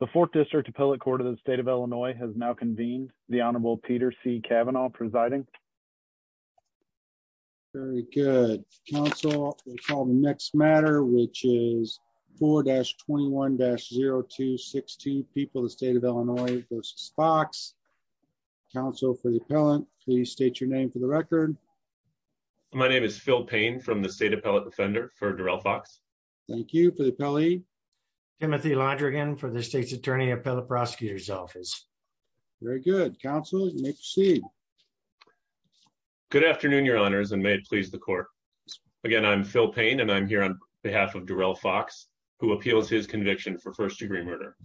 The Fourth District Appellate Court of the State of Illinois has now convened. The Honorable Peter C. Cavanaugh presiding. Very good. Council, we'll call the next matter, which is 4-21-0262, People of the State of Illinois v. Fox. Council for the Appellant, please state your name for the record. My name is Phil Payne from the State Appellate Defender for Durell Fox. Thank you for the appellee. Timothy Londrigan for the State's Attorney Appellate Prosecutor's Office. Very good. Council, you may proceed. Good afternoon, Your Honors, and may it please the Court. Again, I'm Phil Payne, and I'm here on behalf of Durell Fox, who appeals his conviction for first-degree murder.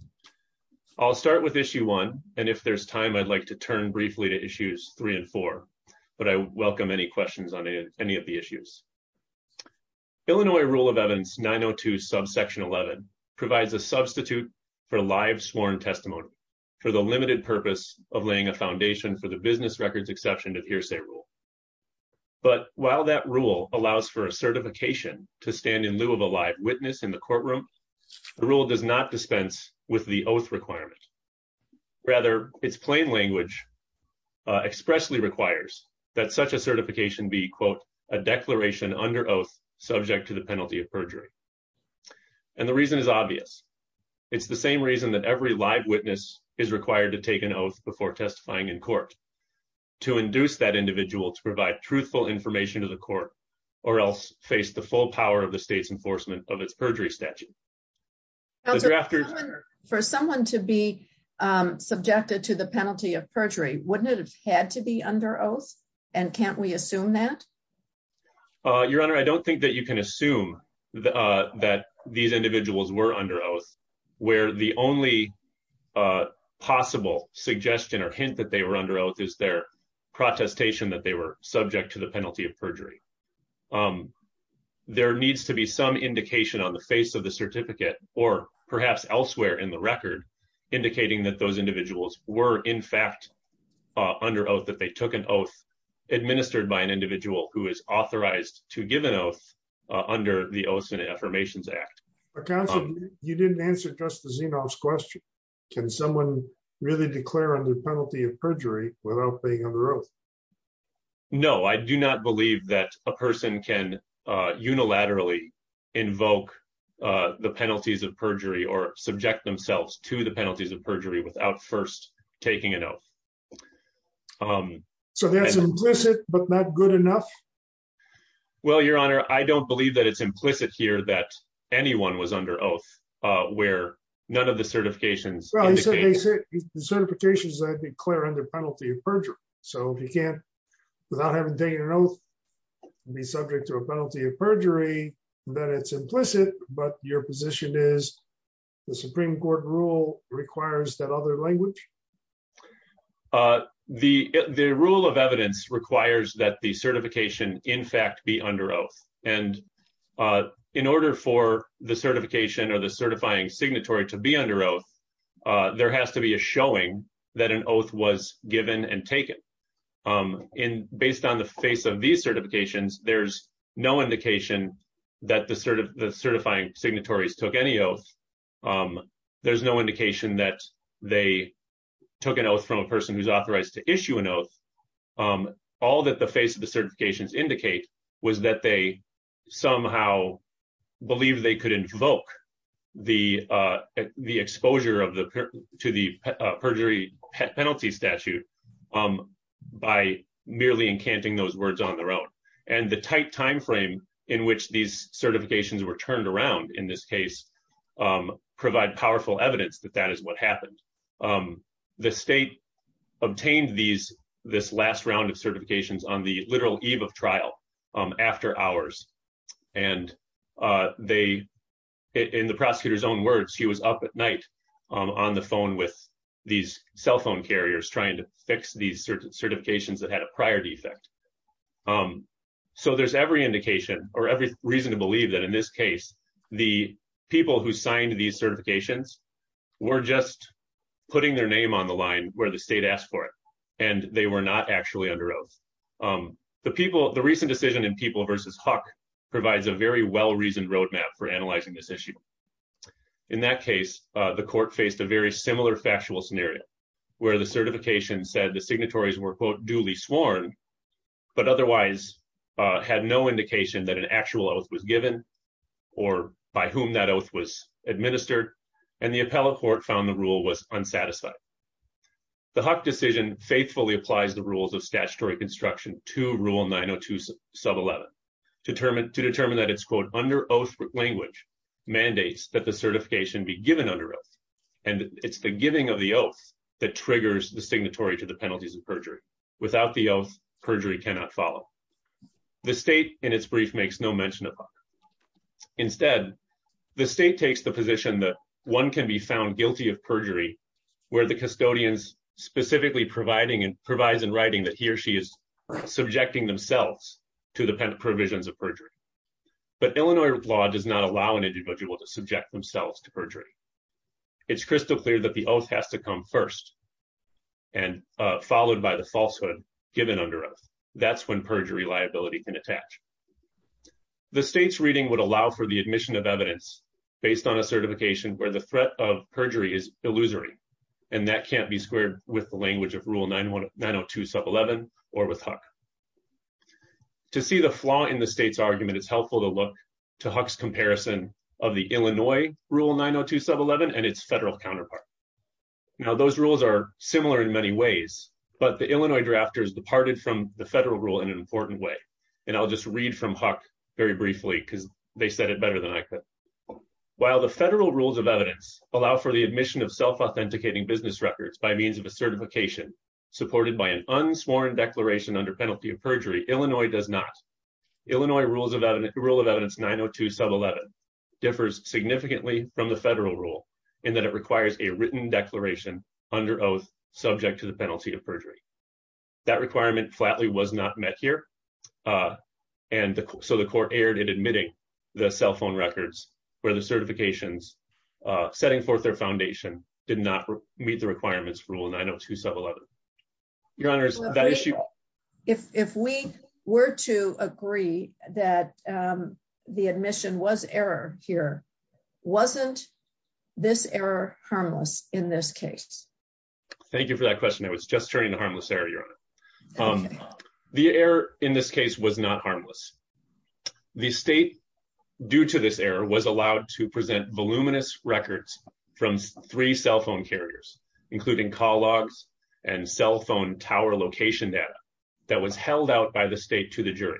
I'll start with Issue 1, and if there's time, I'd like to turn briefly to Issues 3 and 4, but I welcome any questions on any of the issues. Illinois Rule of Evidence 902 subsection 11 provides a substitute for live sworn testimony for the limited purpose of laying a foundation for the business records exception to the hearsay rule. But while that rule allows for a certification to stand in lieu of a live witness in the courtroom, the rule does not dispense with the oath requirement. Rather, its plain language expressly requires that such a certification be, quote, a declaration under oath subject to the penalty of perjury. And the reason is obvious. It's the same reason that every live witness is required to take an oath before testifying in court, to induce that individual to provide truthful information to the court or else face the full power of the state's enforcement of its perjury statute. For someone to be subjected to the penalty of perjury, wouldn't it have had to be under oath? And can't we assume that? Your Honor, I don't think that you can assume that these individuals were under oath, where the only possible suggestion or hint that they were under oath is their protestation that they were subject to the penalty of perjury. There needs to be some indication on the face of the certificate, or perhaps elsewhere in the record, indicating that those individuals were in fact under oath, that they took an oath administered by an individual who is authorized to give an oath under the Oaths and Affirmations Act. Your Honor, you didn't answer Justice Enoff's question. Can someone really declare under penalty of perjury without being under oath? No, I do not believe that a person can unilaterally invoke the penalties of perjury or subject themselves to the penalties of perjury without first taking an oath. So that's implicit, but not good enough? Well, Your Honor, I don't believe that it's implicit here that anyone was under oath, where none of the certifications... The certifications declare under penalty of perjury. So if you can't, without having taken an oath, be subject to a penalty of perjury, then it's implicit, but your position is the Supreme Court rule requires that other language? The rule of evidence requires that the certification in fact be under oath. And in order for the certification or the certifying signatory to be under oath, there has to be a showing that an oath was given and taken. Based on the face of these certifications, there's no indication that the certifying signatories took any oath. There's no indication that they took an oath from a person who's authorized to issue an oath. All that the face of the certifications indicate was that they somehow believe they could invoke the exposure to the perjury penalty statute by merely encanting those words on their own. And the tight timeframe in which these certifications were turned around in this case provide powerful evidence that that is what happened. The state obtained this last round of certifications on the literal eve of trial, after hours. And in the prosecutor's own words, he was up at night on the phone with these cell phone carriers trying to fix these certifications that had a prior defect. So there's every indication or every reason to believe that in this case, the people who signed these certifications were just putting their name on the line where the state asked for it, and they were not actually under oath. The recent decision in People v. Huck provides a very well-reasoned roadmap for analyzing this issue. In that case, the court faced a very similar factual scenario where the certification said the signatories were, quote, duly sworn, but otherwise had no indication that an actual oath was given or by whom that oath was administered, and the appellate court found the rule was unsatisfied. The Huck decision faithfully applies the rules of statutory construction to Rule 902 Sub 11 to determine that it's, quote, under oath language mandates that the certification be given under oath. And it's the giving of the oath that triggers the signatory to the penalties of perjury. Without the oath, perjury cannot follow. The state, in its brief, makes no mention of Huck. Instead, the state takes the position that one can be found guilty of perjury where the custodian specifically provides in writing that he or she is subjecting themselves to the provisions of perjury. But Illinois law does not allow an individual to subject themselves to perjury. It's crystal clear that the oath has to come first and followed by the falsehood given under oath. That's when perjury liability can attach. The state's reading would allow for the admission of evidence based on a certification where the threat of perjury is illusory, and that can't be squared with the language of Rule 902 Sub 11 or with Huck. To see the flaw in the state's argument, it's helpful to look to Huck's comparison of the Illinois Rule 902 Sub 11 and its federal counterpart. Now, those rules are similar in many ways, but the Illinois drafters departed from the federal rule in an important way. And I'll just read from Huck very briefly because they said it better than I could. While the federal rules of evidence allow for the admission of self-authenticating business records by means of a certification supported by an unsworn declaration under penalty of perjury, Illinois does not. Illinois Rule of Evidence 902 Sub 11 differs significantly from the federal rule in that it requires a written declaration under oath subject to the penalty of perjury. That requirement flatly was not met here. And so the court erred in admitting the cell phone records where the certifications setting forth their foundation did not meet the requirements for Rule 902 Sub 11. Your Honors, that issue... If we were to agree that the admission was error here, wasn't this error harmless in this case? Thank you for that question. I was just turning to harmless error, Your Honor. The error in this case was not harmless. The state, due to this error, was allowed to present voluminous records from three cell phone carriers, including call logs and cell phone tower location data that was held out by the state to the jury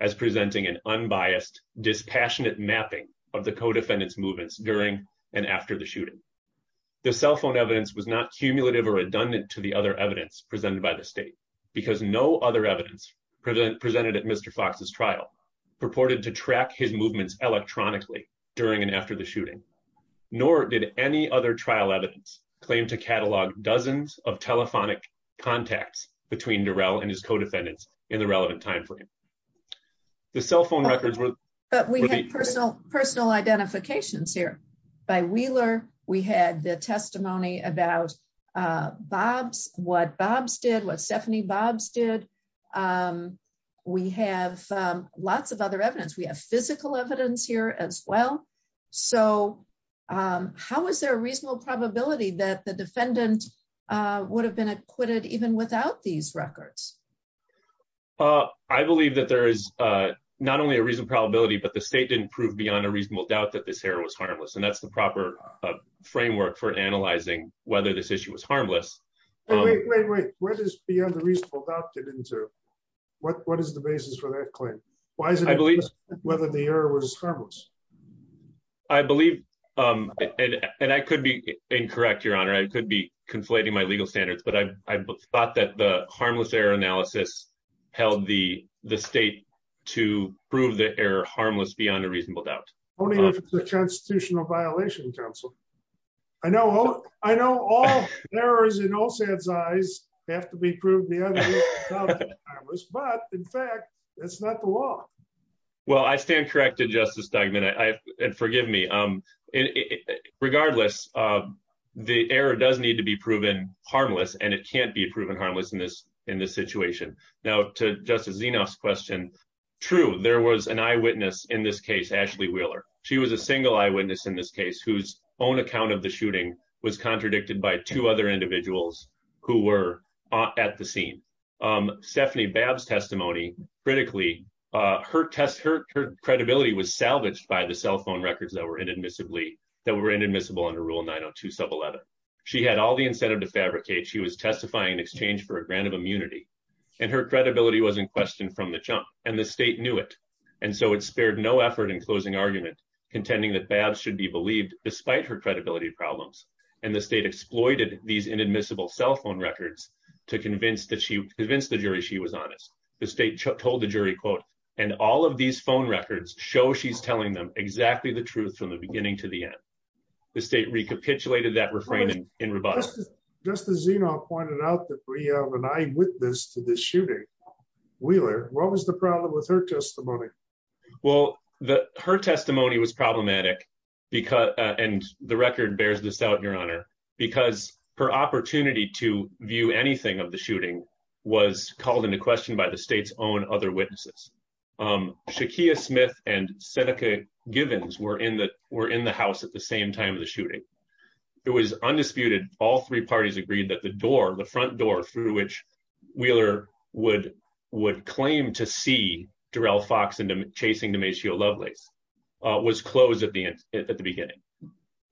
as presenting an unbiased, dispassionate mapping of the co-defendants movements during and after the shooting. The cell phone evidence was not cumulative or redundant to the other evidence presented by the state because no other evidence presented at Mr. Fox's trial purported to track his movements electronically during and after the shooting. Nor did any other trial evidence claim to catalog dozens of telephonic contacts between Durrell and his co-defendants in the relevant timeframe. The cell phone records were... But we had personal identifications here. By Wheeler, we had the testimony about Bob's, what Bob's did, what Stephanie Bob's did. We have lots of other evidence. We have physical evidence here as well. So, how is there a reasonable probability that the defendant would have been acquitted even without these records? I believe that there is not only a reasonable probability, but the state didn't prove beyond a reasonable doubt that this error was harmless. And that's the proper framework for analyzing whether this issue was harmless. Wait, wait, wait. What is beyond a reasonable doubt? What is the basis for that claim? Why is it whether the error was harmless? I believe, and I could be incorrect, Your Honor, I could be conflating my legal standards, but I thought that the harmless error analysis held the state to prove the error harmless beyond a reasonable doubt. Only if it's a constitutional violation, counsel. I know all errors in OSAD's eyes have to be proved beyond a reasonable doubt, but in fact, that's not the law. Well, I stand corrected, Justice Duggan, and forgive me. Regardless, the error does need to be proven harmless, and it can't be proven harmless in this situation. Now, to Justice Zinoff's question, true, there was an eyewitness in this case, Ashley Wheeler. She was a single eyewitness in this case whose own account of the shooting was contradicted by two other individuals who were at the scene. Stephanie Babb's testimony, critically, her credibility was salvaged by the cell phone records that were inadmissible under Rule 902 Sub 11. She had all the incentive to fabricate. She was testifying in exchange for a grant of immunity, and her credibility was in question from the jump, and the state knew it. And so it spared no effort in closing argument, contending that Babb should be believed despite her credibility problems, and the state exploited these inadmissible cell phone records to convince the jury she was honest. The state told the jury, quote, and all of these phone records show she's telling them exactly the truth from the beginning to the end. The state recapitulated that refraining in rebuttal. Justice Zinoff pointed out that we have an eyewitness to this shooting. Wheeler, what was the problem with her testimony? Well, her testimony was problematic, and the record bears this out, Your Honor, because her opportunity to view anything of the shooting was called into question by the state's own other witnesses. Shaquia Smith and Seneca Givens were in the house at the same time of the shooting. It was undisputed, all three parties agreed that the door, the front door through which Wheeler would claim to see Durrell Fox chasing Demacio Lovelace was closed at the beginning.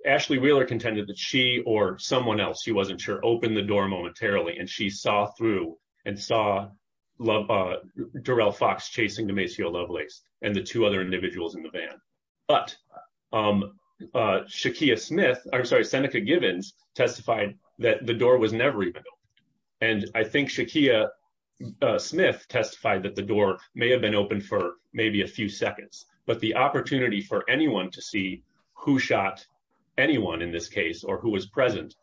Ashley Wheeler contended that she or someone else, she wasn't sure, opened the door momentarily, and she saw through and saw Durrell Fox chasing Demacio Lovelace and the two other individuals in the van. But Seneca Givens testified that the door was never even opened, and I think Shaquia Smith testified that the door may have been open for maybe a few seconds, but the opportunity for anyone to see who shot anyone in this case or who was present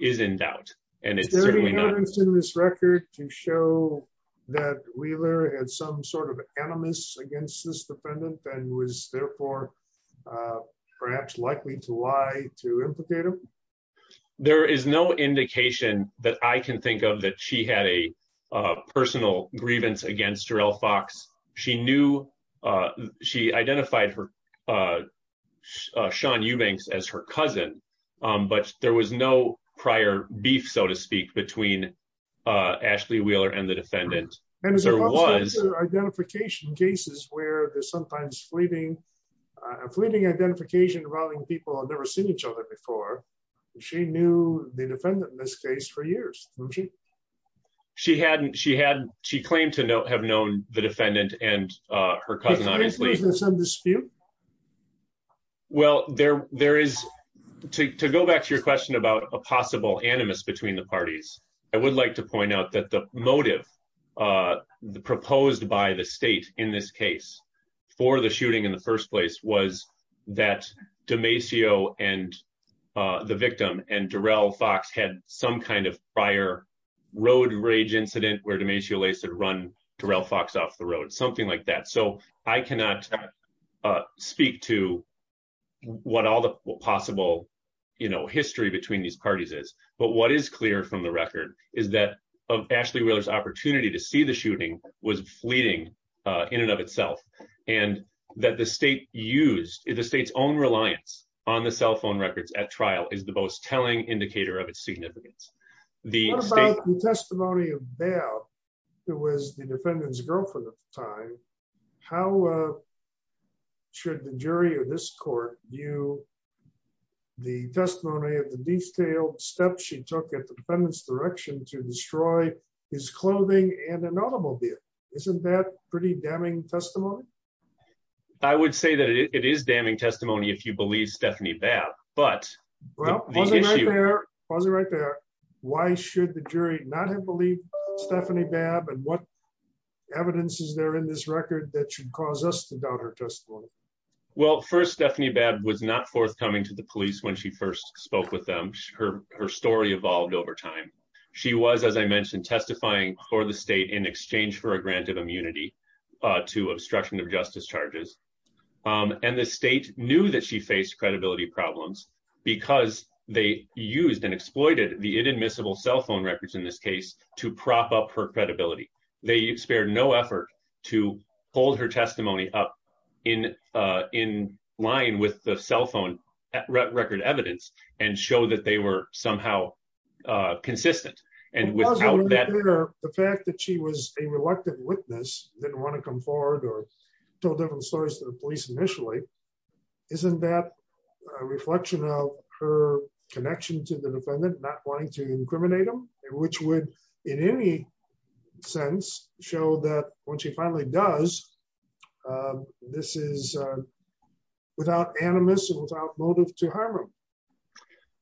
is in doubt. Is there any evidence in this record to show that Wheeler had some sort of animus against this defendant and was therefore perhaps likely to lie to implicate him? There is no indication that I can think of that she had a personal grievance against Durrell Fox. She identified Sean Eubanks as her cousin, but there was no prior beef, so to speak, between Ashley Wheeler and the defendant. And there are also identification cases where there's sometimes fleeting identification involving people who have never seen each other before. She knew the defendant in this case for years, didn't she? She claimed to have known the defendant and her cousin, obviously. Is there some dispute? Well, to go back to your question about a possible animus between the parties, I would like to point out that the motive proposed by the state in this case for the shooting in the first place was that Demacio and the victim and Durrell Fox had some kind of prior road rage incident where Demacio Lovelace had run Durrell Fox off the road, something like that. So I cannot speak to what all the possible history between these parties is, but what is clear from the record is that Ashley Wheeler's opportunity to see the shooting was fleeting in and of itself, and that the state's own reliance on the cell phone records at trial is the most telling indicator of its significance. What about the testimony of Babb, who was the defendant's girlfriend at the time? How should the jury of this court view the testimony of the detailed steps she took at the defendant's direction to destroy his clothing and an automobile? Isn't that pretty damning testimony? I would say that it is damning testimony if you believe Stephanie Babb. Pause it right there. Why should the jury not have believed Stephanie Babb, and what evidence is there in this record that should cause us to doubt her testimony? Well, first, Stephanie Babb was not forthcoming to the police when she first spoke with them. Her story evolved over time. She was, as I mentioned, testifying for the state in exchange for a grant of immunity to obstruction of justice charges. And the state knew that she faced credibility problems because they used and exploited the inadmissible cell phone records in this case to prop up her credibility. They spared no effort to hold her testimony up in line with the cell phone record evidence and show that they were somehow consistent. Pause it right there. The fact that she was a reluctant witness, didn't want to come forward or tell different stories to the police initially, isn't that a reflection of her connection to the defendant, not wanting to incriminate him? Which would, in any sense, show that when she finally does, this is without animus and without motive to harm him.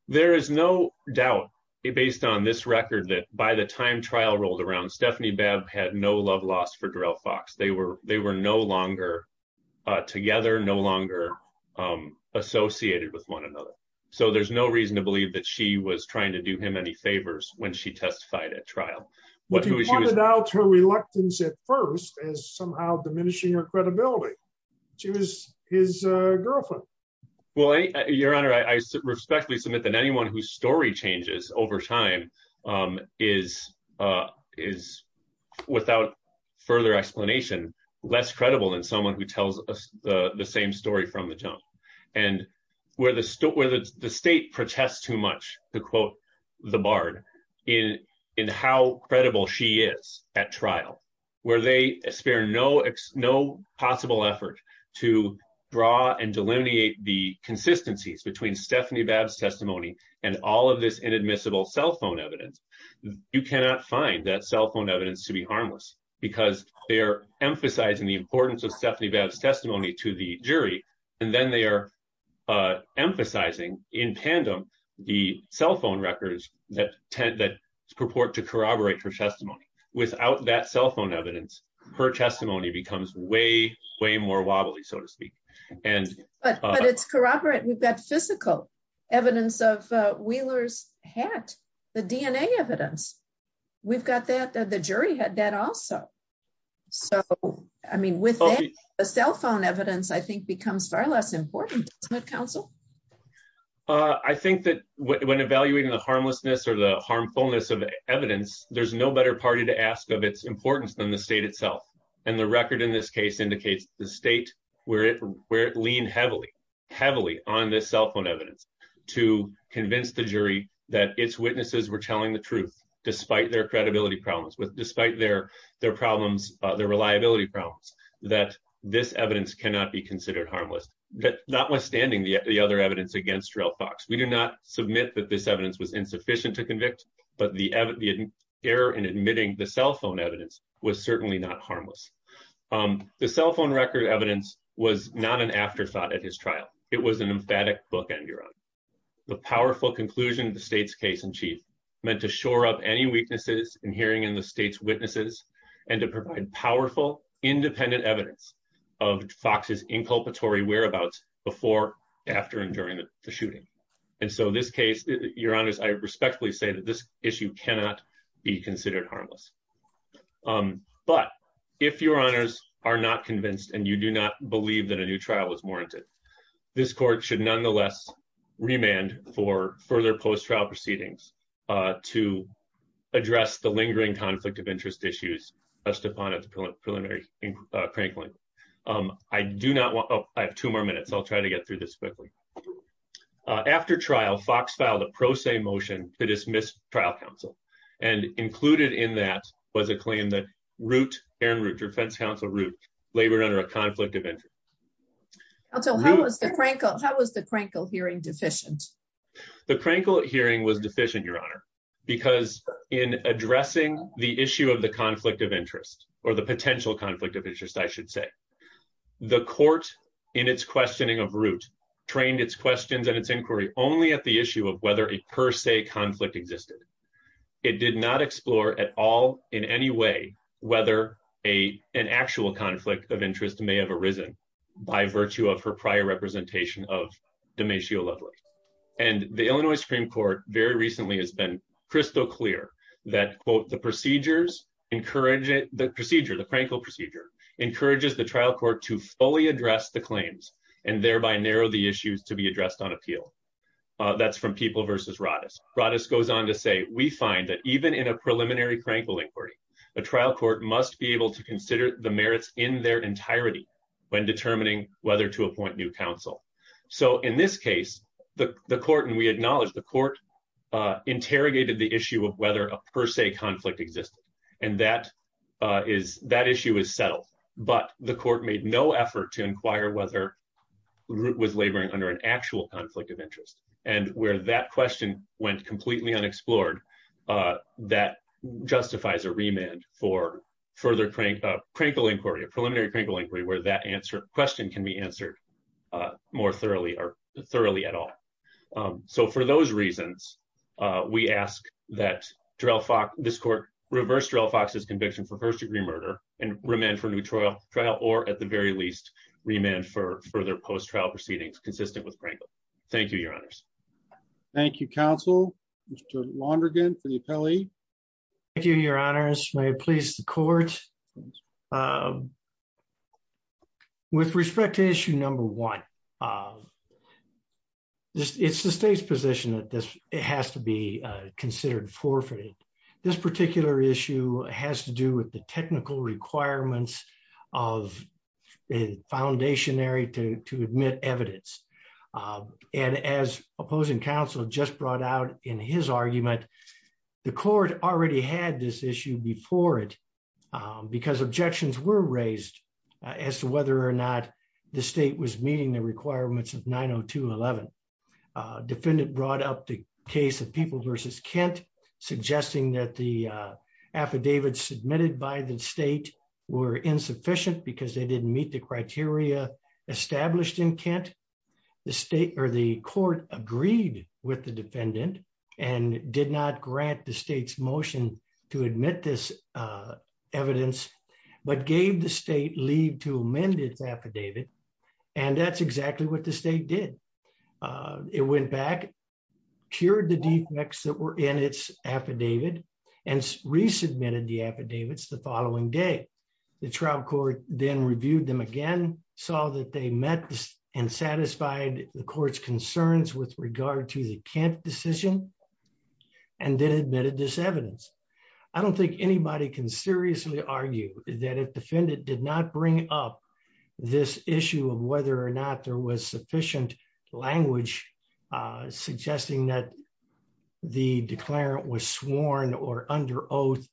There is no doubt, based on this record, that by the time trial rolled around, Stephanie Babb had no love lost for Darrell Fox. They were no longer together, no longer associated with one another. So there's no reason to believe that she was trying to do him any favors when she testified at trial. But he pointed out her reluctance at first as somehow diminishing her credibility. She was his girlfriend. Your Honor, I respectfully submit that anyone whose story changes over time is, without further explanation, less credible than someone who tells the same story from the jump. And where the state protests too much, to quote the Bard, in how credible she is at trial, where they spare no possible effort to draw and delineate the consistencies between Stephanie Babb's testimony and all of this inadmissible cell phone evidence, you cannot find that cell phone evidence to be harmless. Because they're emphasizing the importance of Stephanie Babb's testimony to the jury, and then they are emphasizing, in tandem, the cell phone records that purport to corroborate her testimony. Without that cell phone evidence, her testimony becomes way, way more wobbly, so to speak. But it's corroborated. We've got physical evidence of Wheeler's hat, the DNA evidence. We've got that. The jury had that also. So, I mean, with that, the cell phone evidence, I think, becomes far less important, doesn't it, counsel? I think that when evaluating the harmlessness or the harmfulness of evidence, there's no better party to ask of its importance than the state itself. And the record in this case indicates the state, where it leaned heavily, heavily on this cell phone evidence, to convince the jury that its witnesses were telling the truth, despite their credibility problems, despite their reliability problems, that this evidence cannot be considered harmless. Notwithstanding the other evidence against Jarrell Fox, we do not submit that this evidence was insufficient to convict, but the error in admitting the cell phone evidence was certainly not harmless. The cell phone record evidence was not an afterthought at his trial. It was an emphatic bookend, Your Honor. The powerful conclusion of the state's case in chief meant to shore up any weaknesses in hearing in the state's witnesses and to provide powerful, independent evidence of Fox's inculpatory whereabouts before, after, and during the shooting. And so in this case, Your Honors, I respectfully say that this issue cannot be considered harmless. But if Your Honors are not convinced and you do not believe that a new trial was warranted, this court should nonetheless remand for further post-trial proceedings to address the lingering conflict of interest issues best upon its preliminary crank length. I have two more minutes. I'll try to get through this quickly. After trial, Fox filed a pro se motion to dismiss trial counsel, and included in that was a claim that Aaron Root, defense counsel Root, labored under a conflict of interest. How was the Krankel hearing deficient? The Krankel hearing was deficient, Your Honor, because in addressing the issue of the conflict of interest, or the potential conflict of interest, I should say, the court, in its questioning of Root, trained its questions and its inquiry only at the issue of whether a per se conflict existed. It did not explore at all, in any way, whether an actual conflict of interest may have arisen by virtue of her prior representation of Demetrio Lovelace. And the Illinois Supreme Court very recently has been crystal clear that, quote, the procedures encourage it, the procedure, the Krankel procedure, encourages the trial court to fully address the claims and thereby narrow the issues to be addressed on appeal. That's from People v. Radis. Radis goes on to say, we find that even in a preliminary Krankel inquiry, a trial court must be able to consider the merits in their entirety when determining whether to appoint new counsel. So in this case, the court, and we acknowledge the court, interrogated the issue of whether a per se conflict existed, and that issue is settled. But the court made no effort to inquire whether Root was laboring under an actual conflict of interest, and where that question went completely unexplored, that justifies a remand for further Krankel inquiry, a preliminary Krankel inquiry, where that question can be answered more thoroughly or thoroughly at all. So for those reasons, we ask that this court reverse Drell Fox's conviction for first-degree murder and remand for a new trial, or at the very least, remand for further post-trial proceedings consistent with Krankel. Thank you, Your Honors. Thank you, counsel. Mr. Lonergan for the appellee. Thank you, Your Honors. May it please the court. With respect to issue number one, it's the state's position that this has to be considered forfeited. This particular issue has to do with the technical requirements of a foundationary to admit evidence. And as opposing counsel just brought out in his argument, the court already had this issue before it, because objections were raised as to whether or not the state was meeting the requirements of 902.11. Defendant brought up the case of People v. Kent, suggesting that the affidavits submitted by the state were insufficient because they didn't meet the criteria established in Kent. The state or the court agreed with the defendant and did not grant the state's motion to admit this evidence, but gave the state leave to amend its affidavit. And that's exactly what the state did. It went back, cured the defects that were in its affidavit, and resubmitted the affidavits the following day. The trial court then reviewed them again, saw that they met and satisfied the court's concerns with regard to the Kent decision, and then admitted this evidence. I don't think anybody can seriously argue that if defendant did not bring up this issue of whether or not there was sufficient language suggesting that the declarant was sworn or under oath,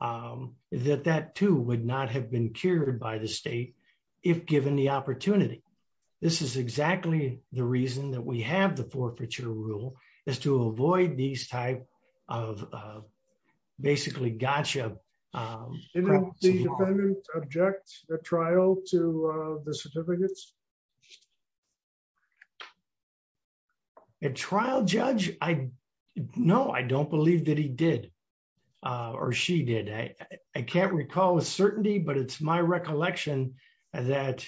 that that too would not have been cured by the state, if given the opportunity. This is exactly the reason that we have the forfeiture rule, is to avoid these type of basically gotcha. Didn't the defendant object the trial to the certificates? A trial judge? No, I don't believe that he did, or she did. I can't recall with certainty, but it's my recollection that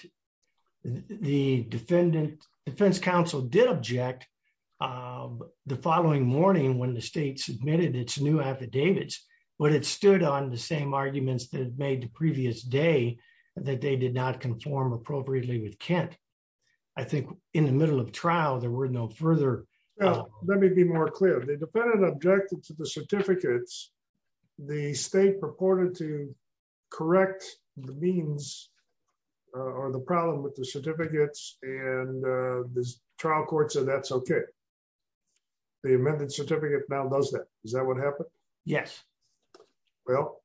the defense counsel did object the following morning when the state submitted its new affidavits. But it stood on the same arguments that it made the previous day, that they did not conform appropriately with Kent. I think in the middle of trial, there were no further... Let me be more clear. The defendant objected to the certificates. The state purported to correct the means, or the problem with the certificates, and the trial court said that's okay. The amended certificate now does that. Is that what happened? Yes. Well,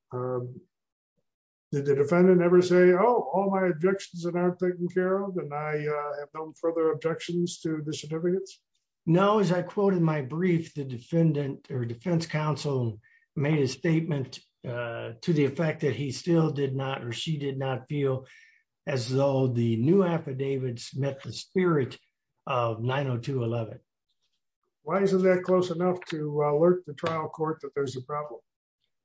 did the defendant ever say, oh, all my objections are now taken care of and I have no further objections to the certificates? No, as I quoted my brief, the defendant or defense counsel made a statement to the effect that he still did not, or she did not feel as though the new affidavits met the spirit of 902.11. Why isn't that close enough to alert the trial court that there's a problem?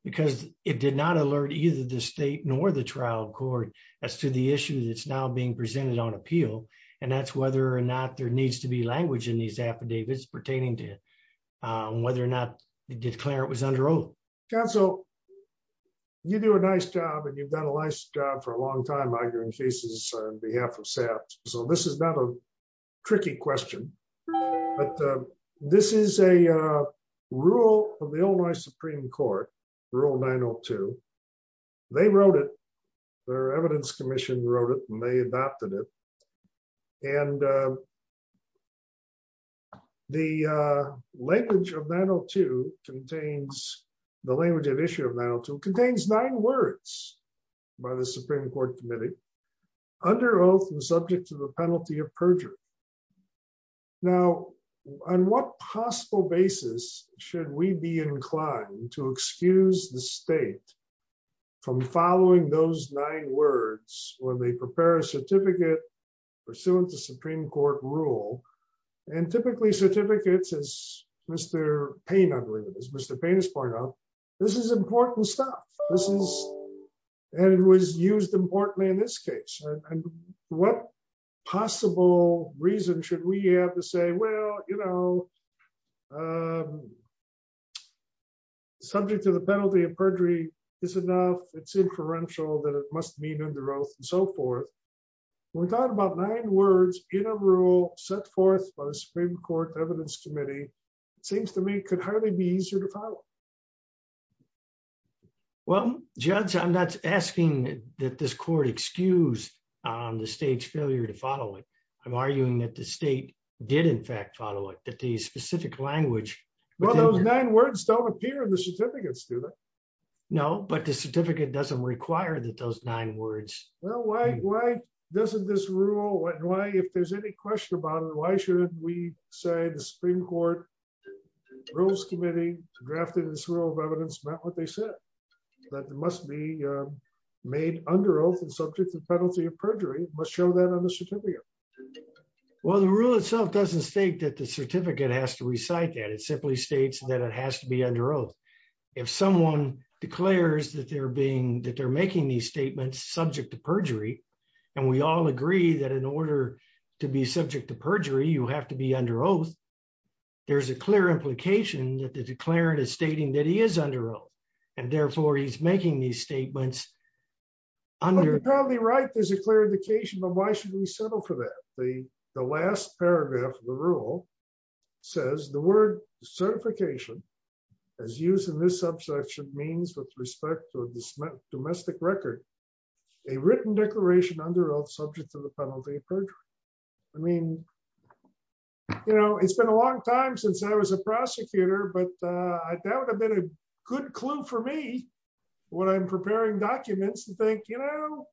Because it did not alert either the state nor the trial court as to the issue that's now being presented on appeal. And that's whether or not there needs to be language in these affidavits pertaining to whether or not the declarant was under oath. Counsel, you do a nice job and you've done a nice job for a long time arguing cases on behalf of SAFT. So this is not a tricky question, but this is a rule of the Illinois Supreme Court, Rule 902. They wrote it. Their evidence commission wrote it and they adopted it. And the language of 902 contains, the language of issue of 902 contains nine words by the Supreme Court Committee, under oath and subject to the penalty of perjury. Now, on what possible basis should we be inclined to excuse the state from following those nine words when they prepare a certificate pursuant to Supreme Court rule? And typically certificates, as Mr. Payne, I believe, as Mr. Payne has pointed out, this is important stuff. And it was used importantly in this case. And what possible reason should we have to say, well, you know, subject to the penalty of perjury is enough. It's inferential that it must mean under oath and so forth. We're talking about nine words in a rule set forth by the Supreme Court Evidence Committee. It seems to me could hardly be easier to follow. Well, Judge, I'm not asking that this court excuse the state's failure to follow it. I'm arguing that the state did in fact follow it, that the specific language. Well, those nine words don't appear in the certificates, do they? No, but the certificate doesn't require that those nine words. Well, why doesn't this rule, if there's any question about it, why should we say the Supreme Court Rules Committee drafted this rule of evidence met what they said, that it must be made under oath and subject to the penalty of perjury? It must show that on the certificate. Well, the rule itself doesn't state that the certificate has to recite that. It simply states that it has to be under oath. If someone declares that they're being that they're making these statements subject to perjury, and we all agree that in order to be subject to perjury, you have to be under oath. There's a clear implication that the declarant is stating that he is under oath, and therefore he's making these statements under. You're probably right, there's a clear indication, but why should we settle for that? The last paragraph of the rule says the word certification as used in this subsection means with respect to a domestic record, a written declaration under oath subject to the penalty of perjury. I mean, you know, it's been a long time since I was a prosecutor, but that would have been a good clue for me when I'm preparing documents to think, you know,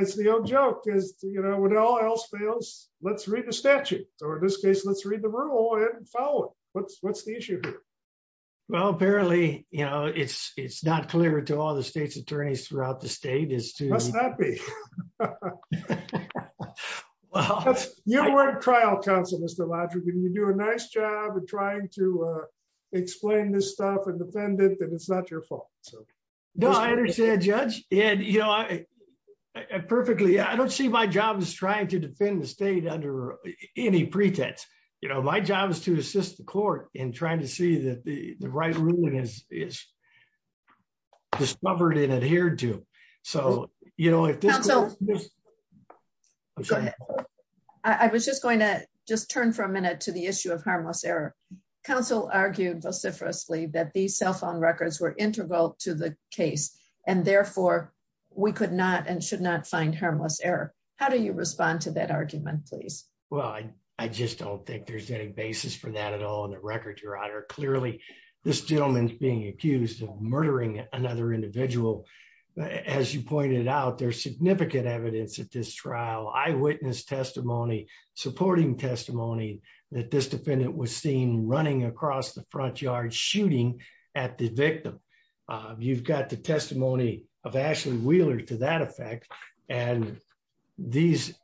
it's the old joke is, you know, when all else fails, let's read the statute, or in this case, let's read the rule and follow it. What's the issue here? Well, apparently, you know, it's not clear to all the state's attorneys throughout the state. Must not be. You were a trial counsel, Mr. Lodgerton, you do a nice job of trying to explain this stuff and defend it, that it's not your fault. No, I understand, Judge. And, you know, I perfectly I don't see my job is trying to defend the state under any pretense, you know, my job is to assist the court in trying to see that the right ruling is discovered and adhered to. So, you know, if this. So, I was just going to just turn for a minute to the issue of harmless error. Counsel argued vociferously that the cell phone records were integral to the case, and therefore, we could not and should not find harmless error. How do you respond to that argument please. Well, I just don't think there's any basis for that at all in the record, Your Honor, clearly, this gentleman's being accused of murdering another individual. As you pointed out, there's significant evidence at this trial eyewitness testimony supporting testimony that this defendant was seen running across the front yard shooting at the victim. You've got the testimony of Ashley Wheeler to that effect. And these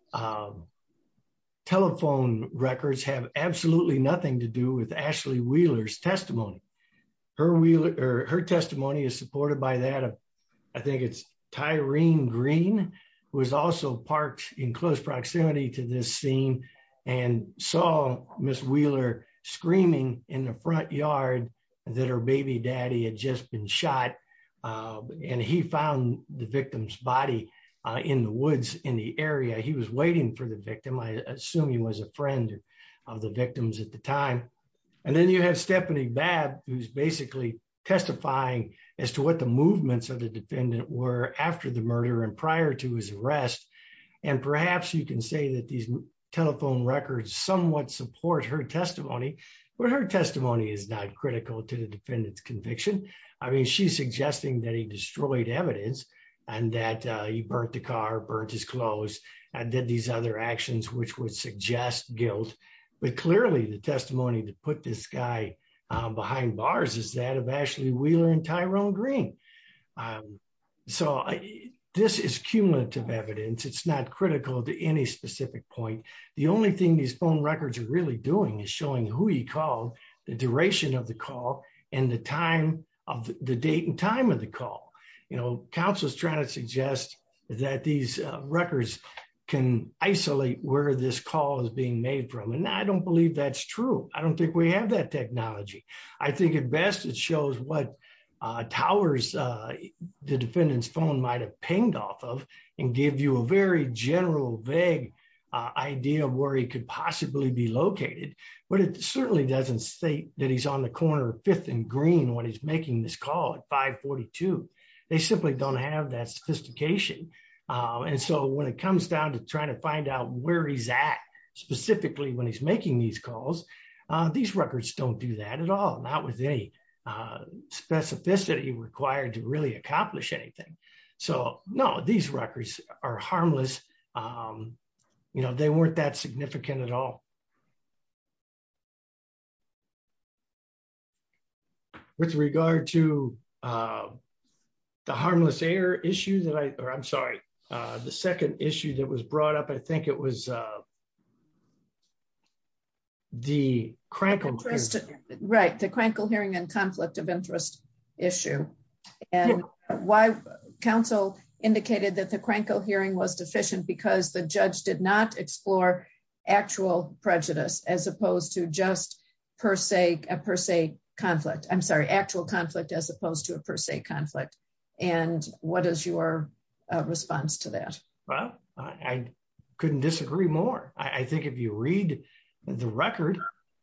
telephone records have absolutely nothing to do with Ashley Wheeler's testimony. Her testimony is supported by that. I think it's Tyreen Green, who is also parked in close proximity to this scene and saw Miss Wheeler screaming in the front yard that her baby daddy had just been shot. And he found the victim's body in the woods in the area he was waiting for the victim I assume he was a friend of the victims at the time. And then you have Stephanie Babb, who's basically testifying as to what the movements of the defendant were after the murder and prior to his arrest. And perhaps you can say that these telephone records somewhat support her testimony, but her testimony is not critical to the defendant's conviction. I mean, she's suggesting that he destroyed evidence and that he burnt the car, burnt his clothes, and did these other actions which would suggest guilt. But clearly the testimony to put this guy behind bars is that of Ashley Wheeler and Tyreen Green. So, this is cumulative evidence. It's not critical to any specific point. The only thing these phone records are really doing is showing who he called, the duration of the call, and the date and time of the call. You know, counsel is trying to suggest that these records can isolate where this call is being made from and I don't believe that's true. I don't think we have that technology. I think at best it shows what towers the defendant's phone might have pinged off of and give you a very general vague idea of where he could possibly be located. But it certainly doesn't state that he's on the corner of Fifth and Green when he's making this call at 542. They simply don't have that sophistication. And so when it comes down to trying to find out where he's at, specifically when he's making these calls, these records don't do that at all. Not with any specificity required to really accomplish anything. So, no, these records are harmless. You know, they weren't that significant at all. With regard to the harmless air issue that I, or I'm sorry, the second issue that was brought up I think it was the crankle. Right, the crankle hearing and conflict of interest issue. And why counsel indicated that the crankle hearing was deficient because the judge did not explore actual prejudice, as opposed to just per se, per se, conflict, I'm sorry actual conflict as opposed to a per se conflict. And what is your response to that. Well, I couldn't disagree more. I think if you read the record,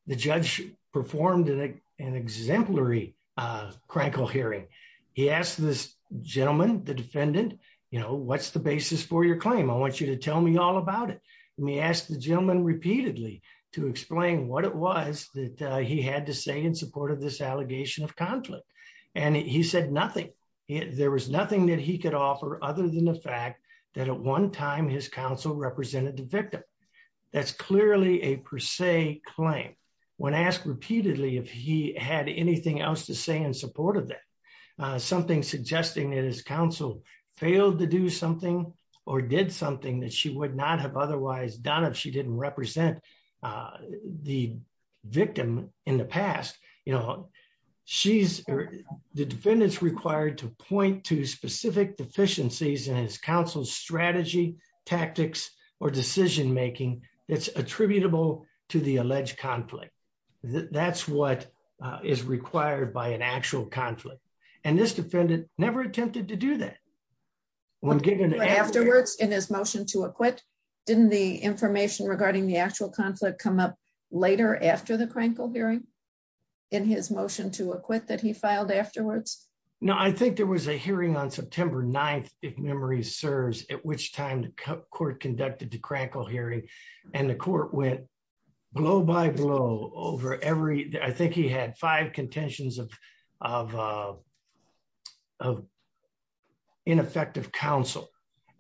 the judge performed an exemplary crankle hearing. He asked this gentleman, the defendant, you know what's the basis for your claim I want you to tell me all about it. And he asked the gentleman repeatedly to explain what it was that he had to say in support of this allegation of conflict. And he said nothing. There was nothing that he could offer other than the fact that at one time his counsel represented the victim. That's clearly a per se claim. When asked repeatedly if he had anything else to say in support of that. Something suggesting that his counsel failed to do something or did something that she would not have otherwise done if she didn't represent the victim in the past, you know, she's the defendants required to point to specific deficiencies and his counsel strategy tactics or decision making, it's attributable to the alleged conflict. That's what is required by an actual conflict, and this defendant never attempted to do that. Afterwards, in his motion to acquit. Didn't the information regarding the actual conflict come up later after the crankle hearing in his motion to acquit that he filed afterwards. No, I think there was a hearing on September 9, if memory serves, at which time the court conducted the crackle hearing, and the court went blow by blow over every day I think he had five contentions of of ineffective counsel.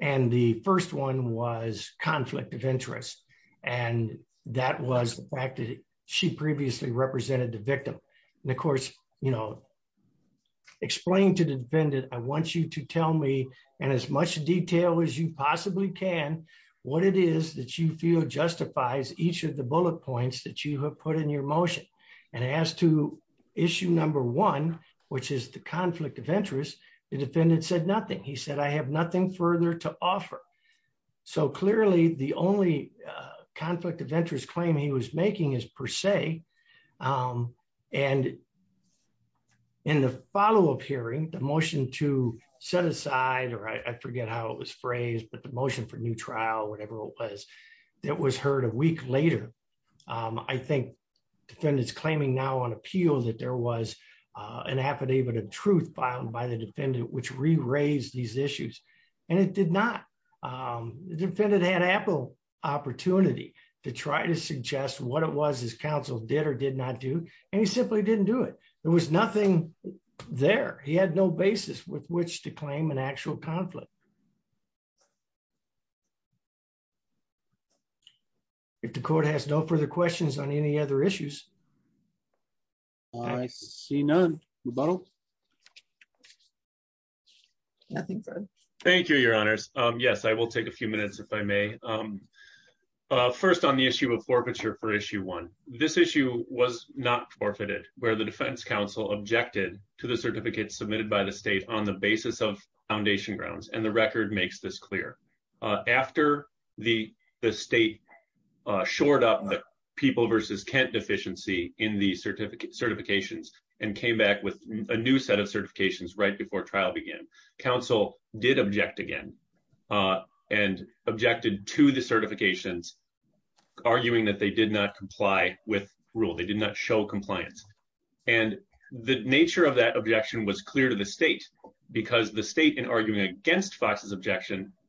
And the first one was conflict of interest. And that was the fact that she previously represented the victim. And of course, you know, explain to the defendant, I want you to tell me, and as much detail as you possibly can, what it is that you feel justifies each of the bullet points that you have put in your motion, and as to issue number one, which is the conflict of interest, the defendant said nothing he said I have nothing further to offer. So clearly the only conflict of interest claim he was making is per se. And in the follow up hearing the motion to set aside or I forget how it was phrased but the motion for new trial whatever it was, that was heard a week later. I think defendants claiming now on appeal that there was an affidavit of truth found by the defendant which re raised these issues, and it did not defend it had Apple opportunity to try to suggest what it was his counsel did or did not do, and he simply didn't do it. There was nothing there, he had no basis with which to claim an actual conflict. Thank you. If the court has no further questions on any other issues. I see none. Thank you, Your Honors. Yes, I will take a few minutes if I may. First on the issue of forfeiture for issue one, this issue was not forfeited, where the defense counsel objected to the certificates submitted by the state on the basis of foundation grounds and the record makes this clear. After the state shored up the people versus Kent deficiency in the certificate certifications and came back with a new set of certifications right before trial began, counsel did object again and objected to the certifications, arguing that they did not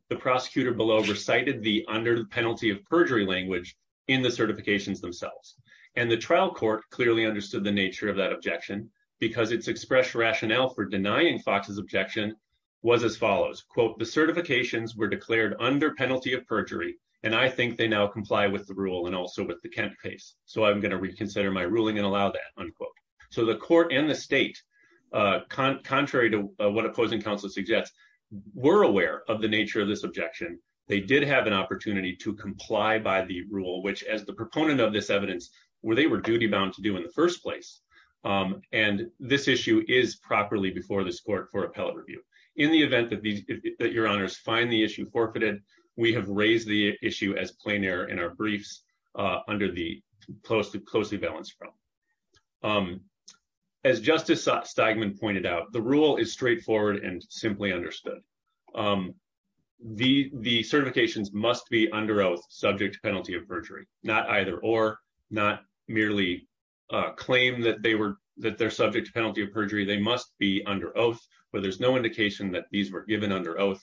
the prosecutor below recited the under the penalty of perjury language in the certifications themselves, and the trial court clearly understood the nature of that objection, because it's expressed rationale for denying Fox's objection was as follows quote the certifications were declared under penalty of perjury, and I think they now comply with the rule and also with the campaign's, so I'm going to reconsider my ruling and allow that unquote. So the court and the state, contrary to what opposing counsel suggests were aware of the nature of this objection, they did have an opportunity to comply by the rule which as the proponent of this evidence, where they were duty bound to do in the first And this issue is properly before this court for appellate review. In the event that the, that your honors find the issue forfeited, we have raised the issue as plain air in our briefs under the close to close the balance from. As justice statement pointed out the rule is straightforward and simply understood. The, the certifications must be under oath subject penalty of perjury, not either or not merely claim that they were that they're subject to penalty of perjury, they must be under oath, but there's no indication that these were given under oath.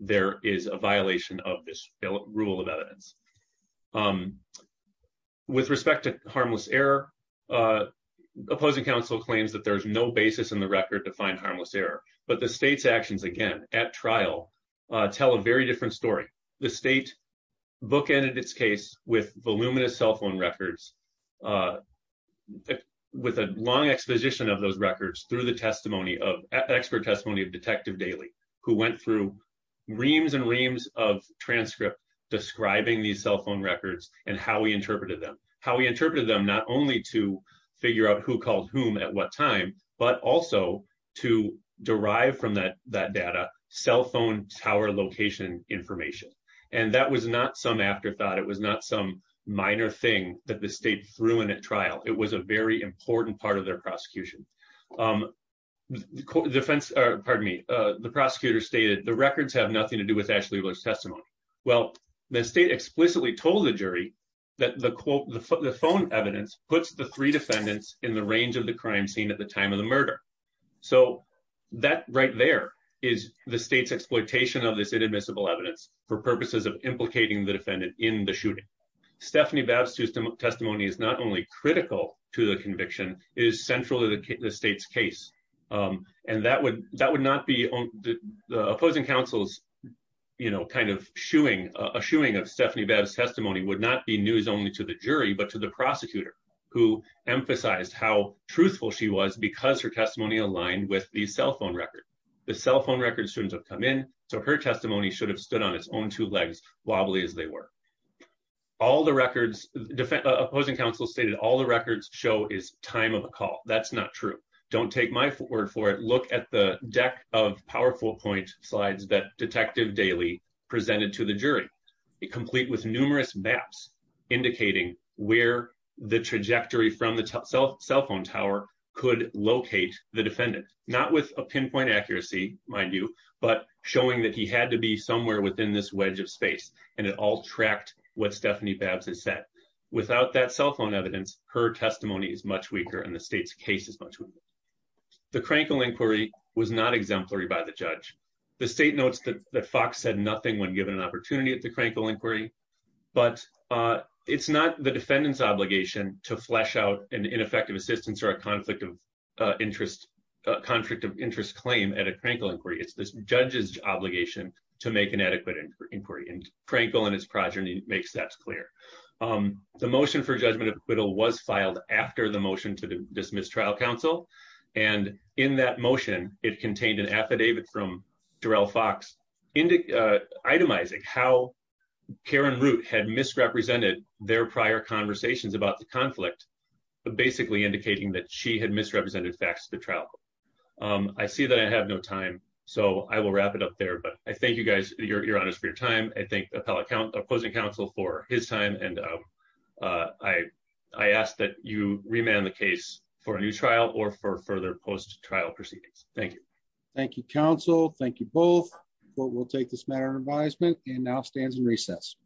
There is a violation of this rule of evidence. With respect to harmless error opposing counsel claims that there's no basis in the record to find harmless error, but the state's actions again at trial, tell a very different story. The state book ended its case with voluminous cell phone records. With a long exposition of those records through the testimony of expert testimony of detective daily, who went through reams and reams of transcript describing the cell phone records, and how we interpreted them, how we interpreted them not only to figure out who called whom at what time, but also to derive from that that data cell phone tower location information. And that was not some afterthought it was not some minor thing that the state threw in at trial, it was a very important part of their prosecution. The defense, pardon me, the prosecutor stated the records have nothing to do with Ashley was testimony. Well, the state explicitly told the jury that the quote the phone evidence puts the three defendants in the range of the crime scene at the time of the murder. So that right there is the state's exploitation of this inadmissible evidence for purposes of implicating the defendant in the shooting. Stephanie bad system of testimony is not only critical to the conviction is central to the state's case. And that would that would not be the opposing counsel's, you know, kind of shooing a shooing of Stephanie bad testimony would not be news only to the jury but to the prosecutor, who emphasized how truthful she was because her testimony aligned with the opposing counsel stated all the records show is time of a call. That's not true. Don't take my word for it. Look at the deck of powerful point slides that detective daily presented to the jury, complete with numerous maps, indicating where the trajectory from the cell phone tower could locate the defendant, not with a pinpoint accuracy, mind you, but showing that he had to be somewhere within this wedge of space, and it all tracked what Stephanie Babs has said, without that cell phone evidence, her testimony is much weaker and the state's case is much. The crankle inquiry was not exemplary by the judge, the state notes that the Fox said nothing when given an opportunity at the crankle inquiry, but it's not the defendants obligation to flesh out an ineffective assistance or a conflict of interest conflict of interest trial. And in that motion, it contained an affidavit from Darrell Fox into itemizing how Karen route had misrepresented their prior conversations about the conflict, but basically indicating that she had misrepresented facts to travel. I see that I have no time, so I will wrap it up there but I think you guys, your honors for your time, I think appellate account opposing counsel for his time and I, I asked that you remand the case for a new trial or for further post trial proceedings. Thank you. Thank you counsel. Thank you both. But we'll take this matter of advisement, and now stands and recess.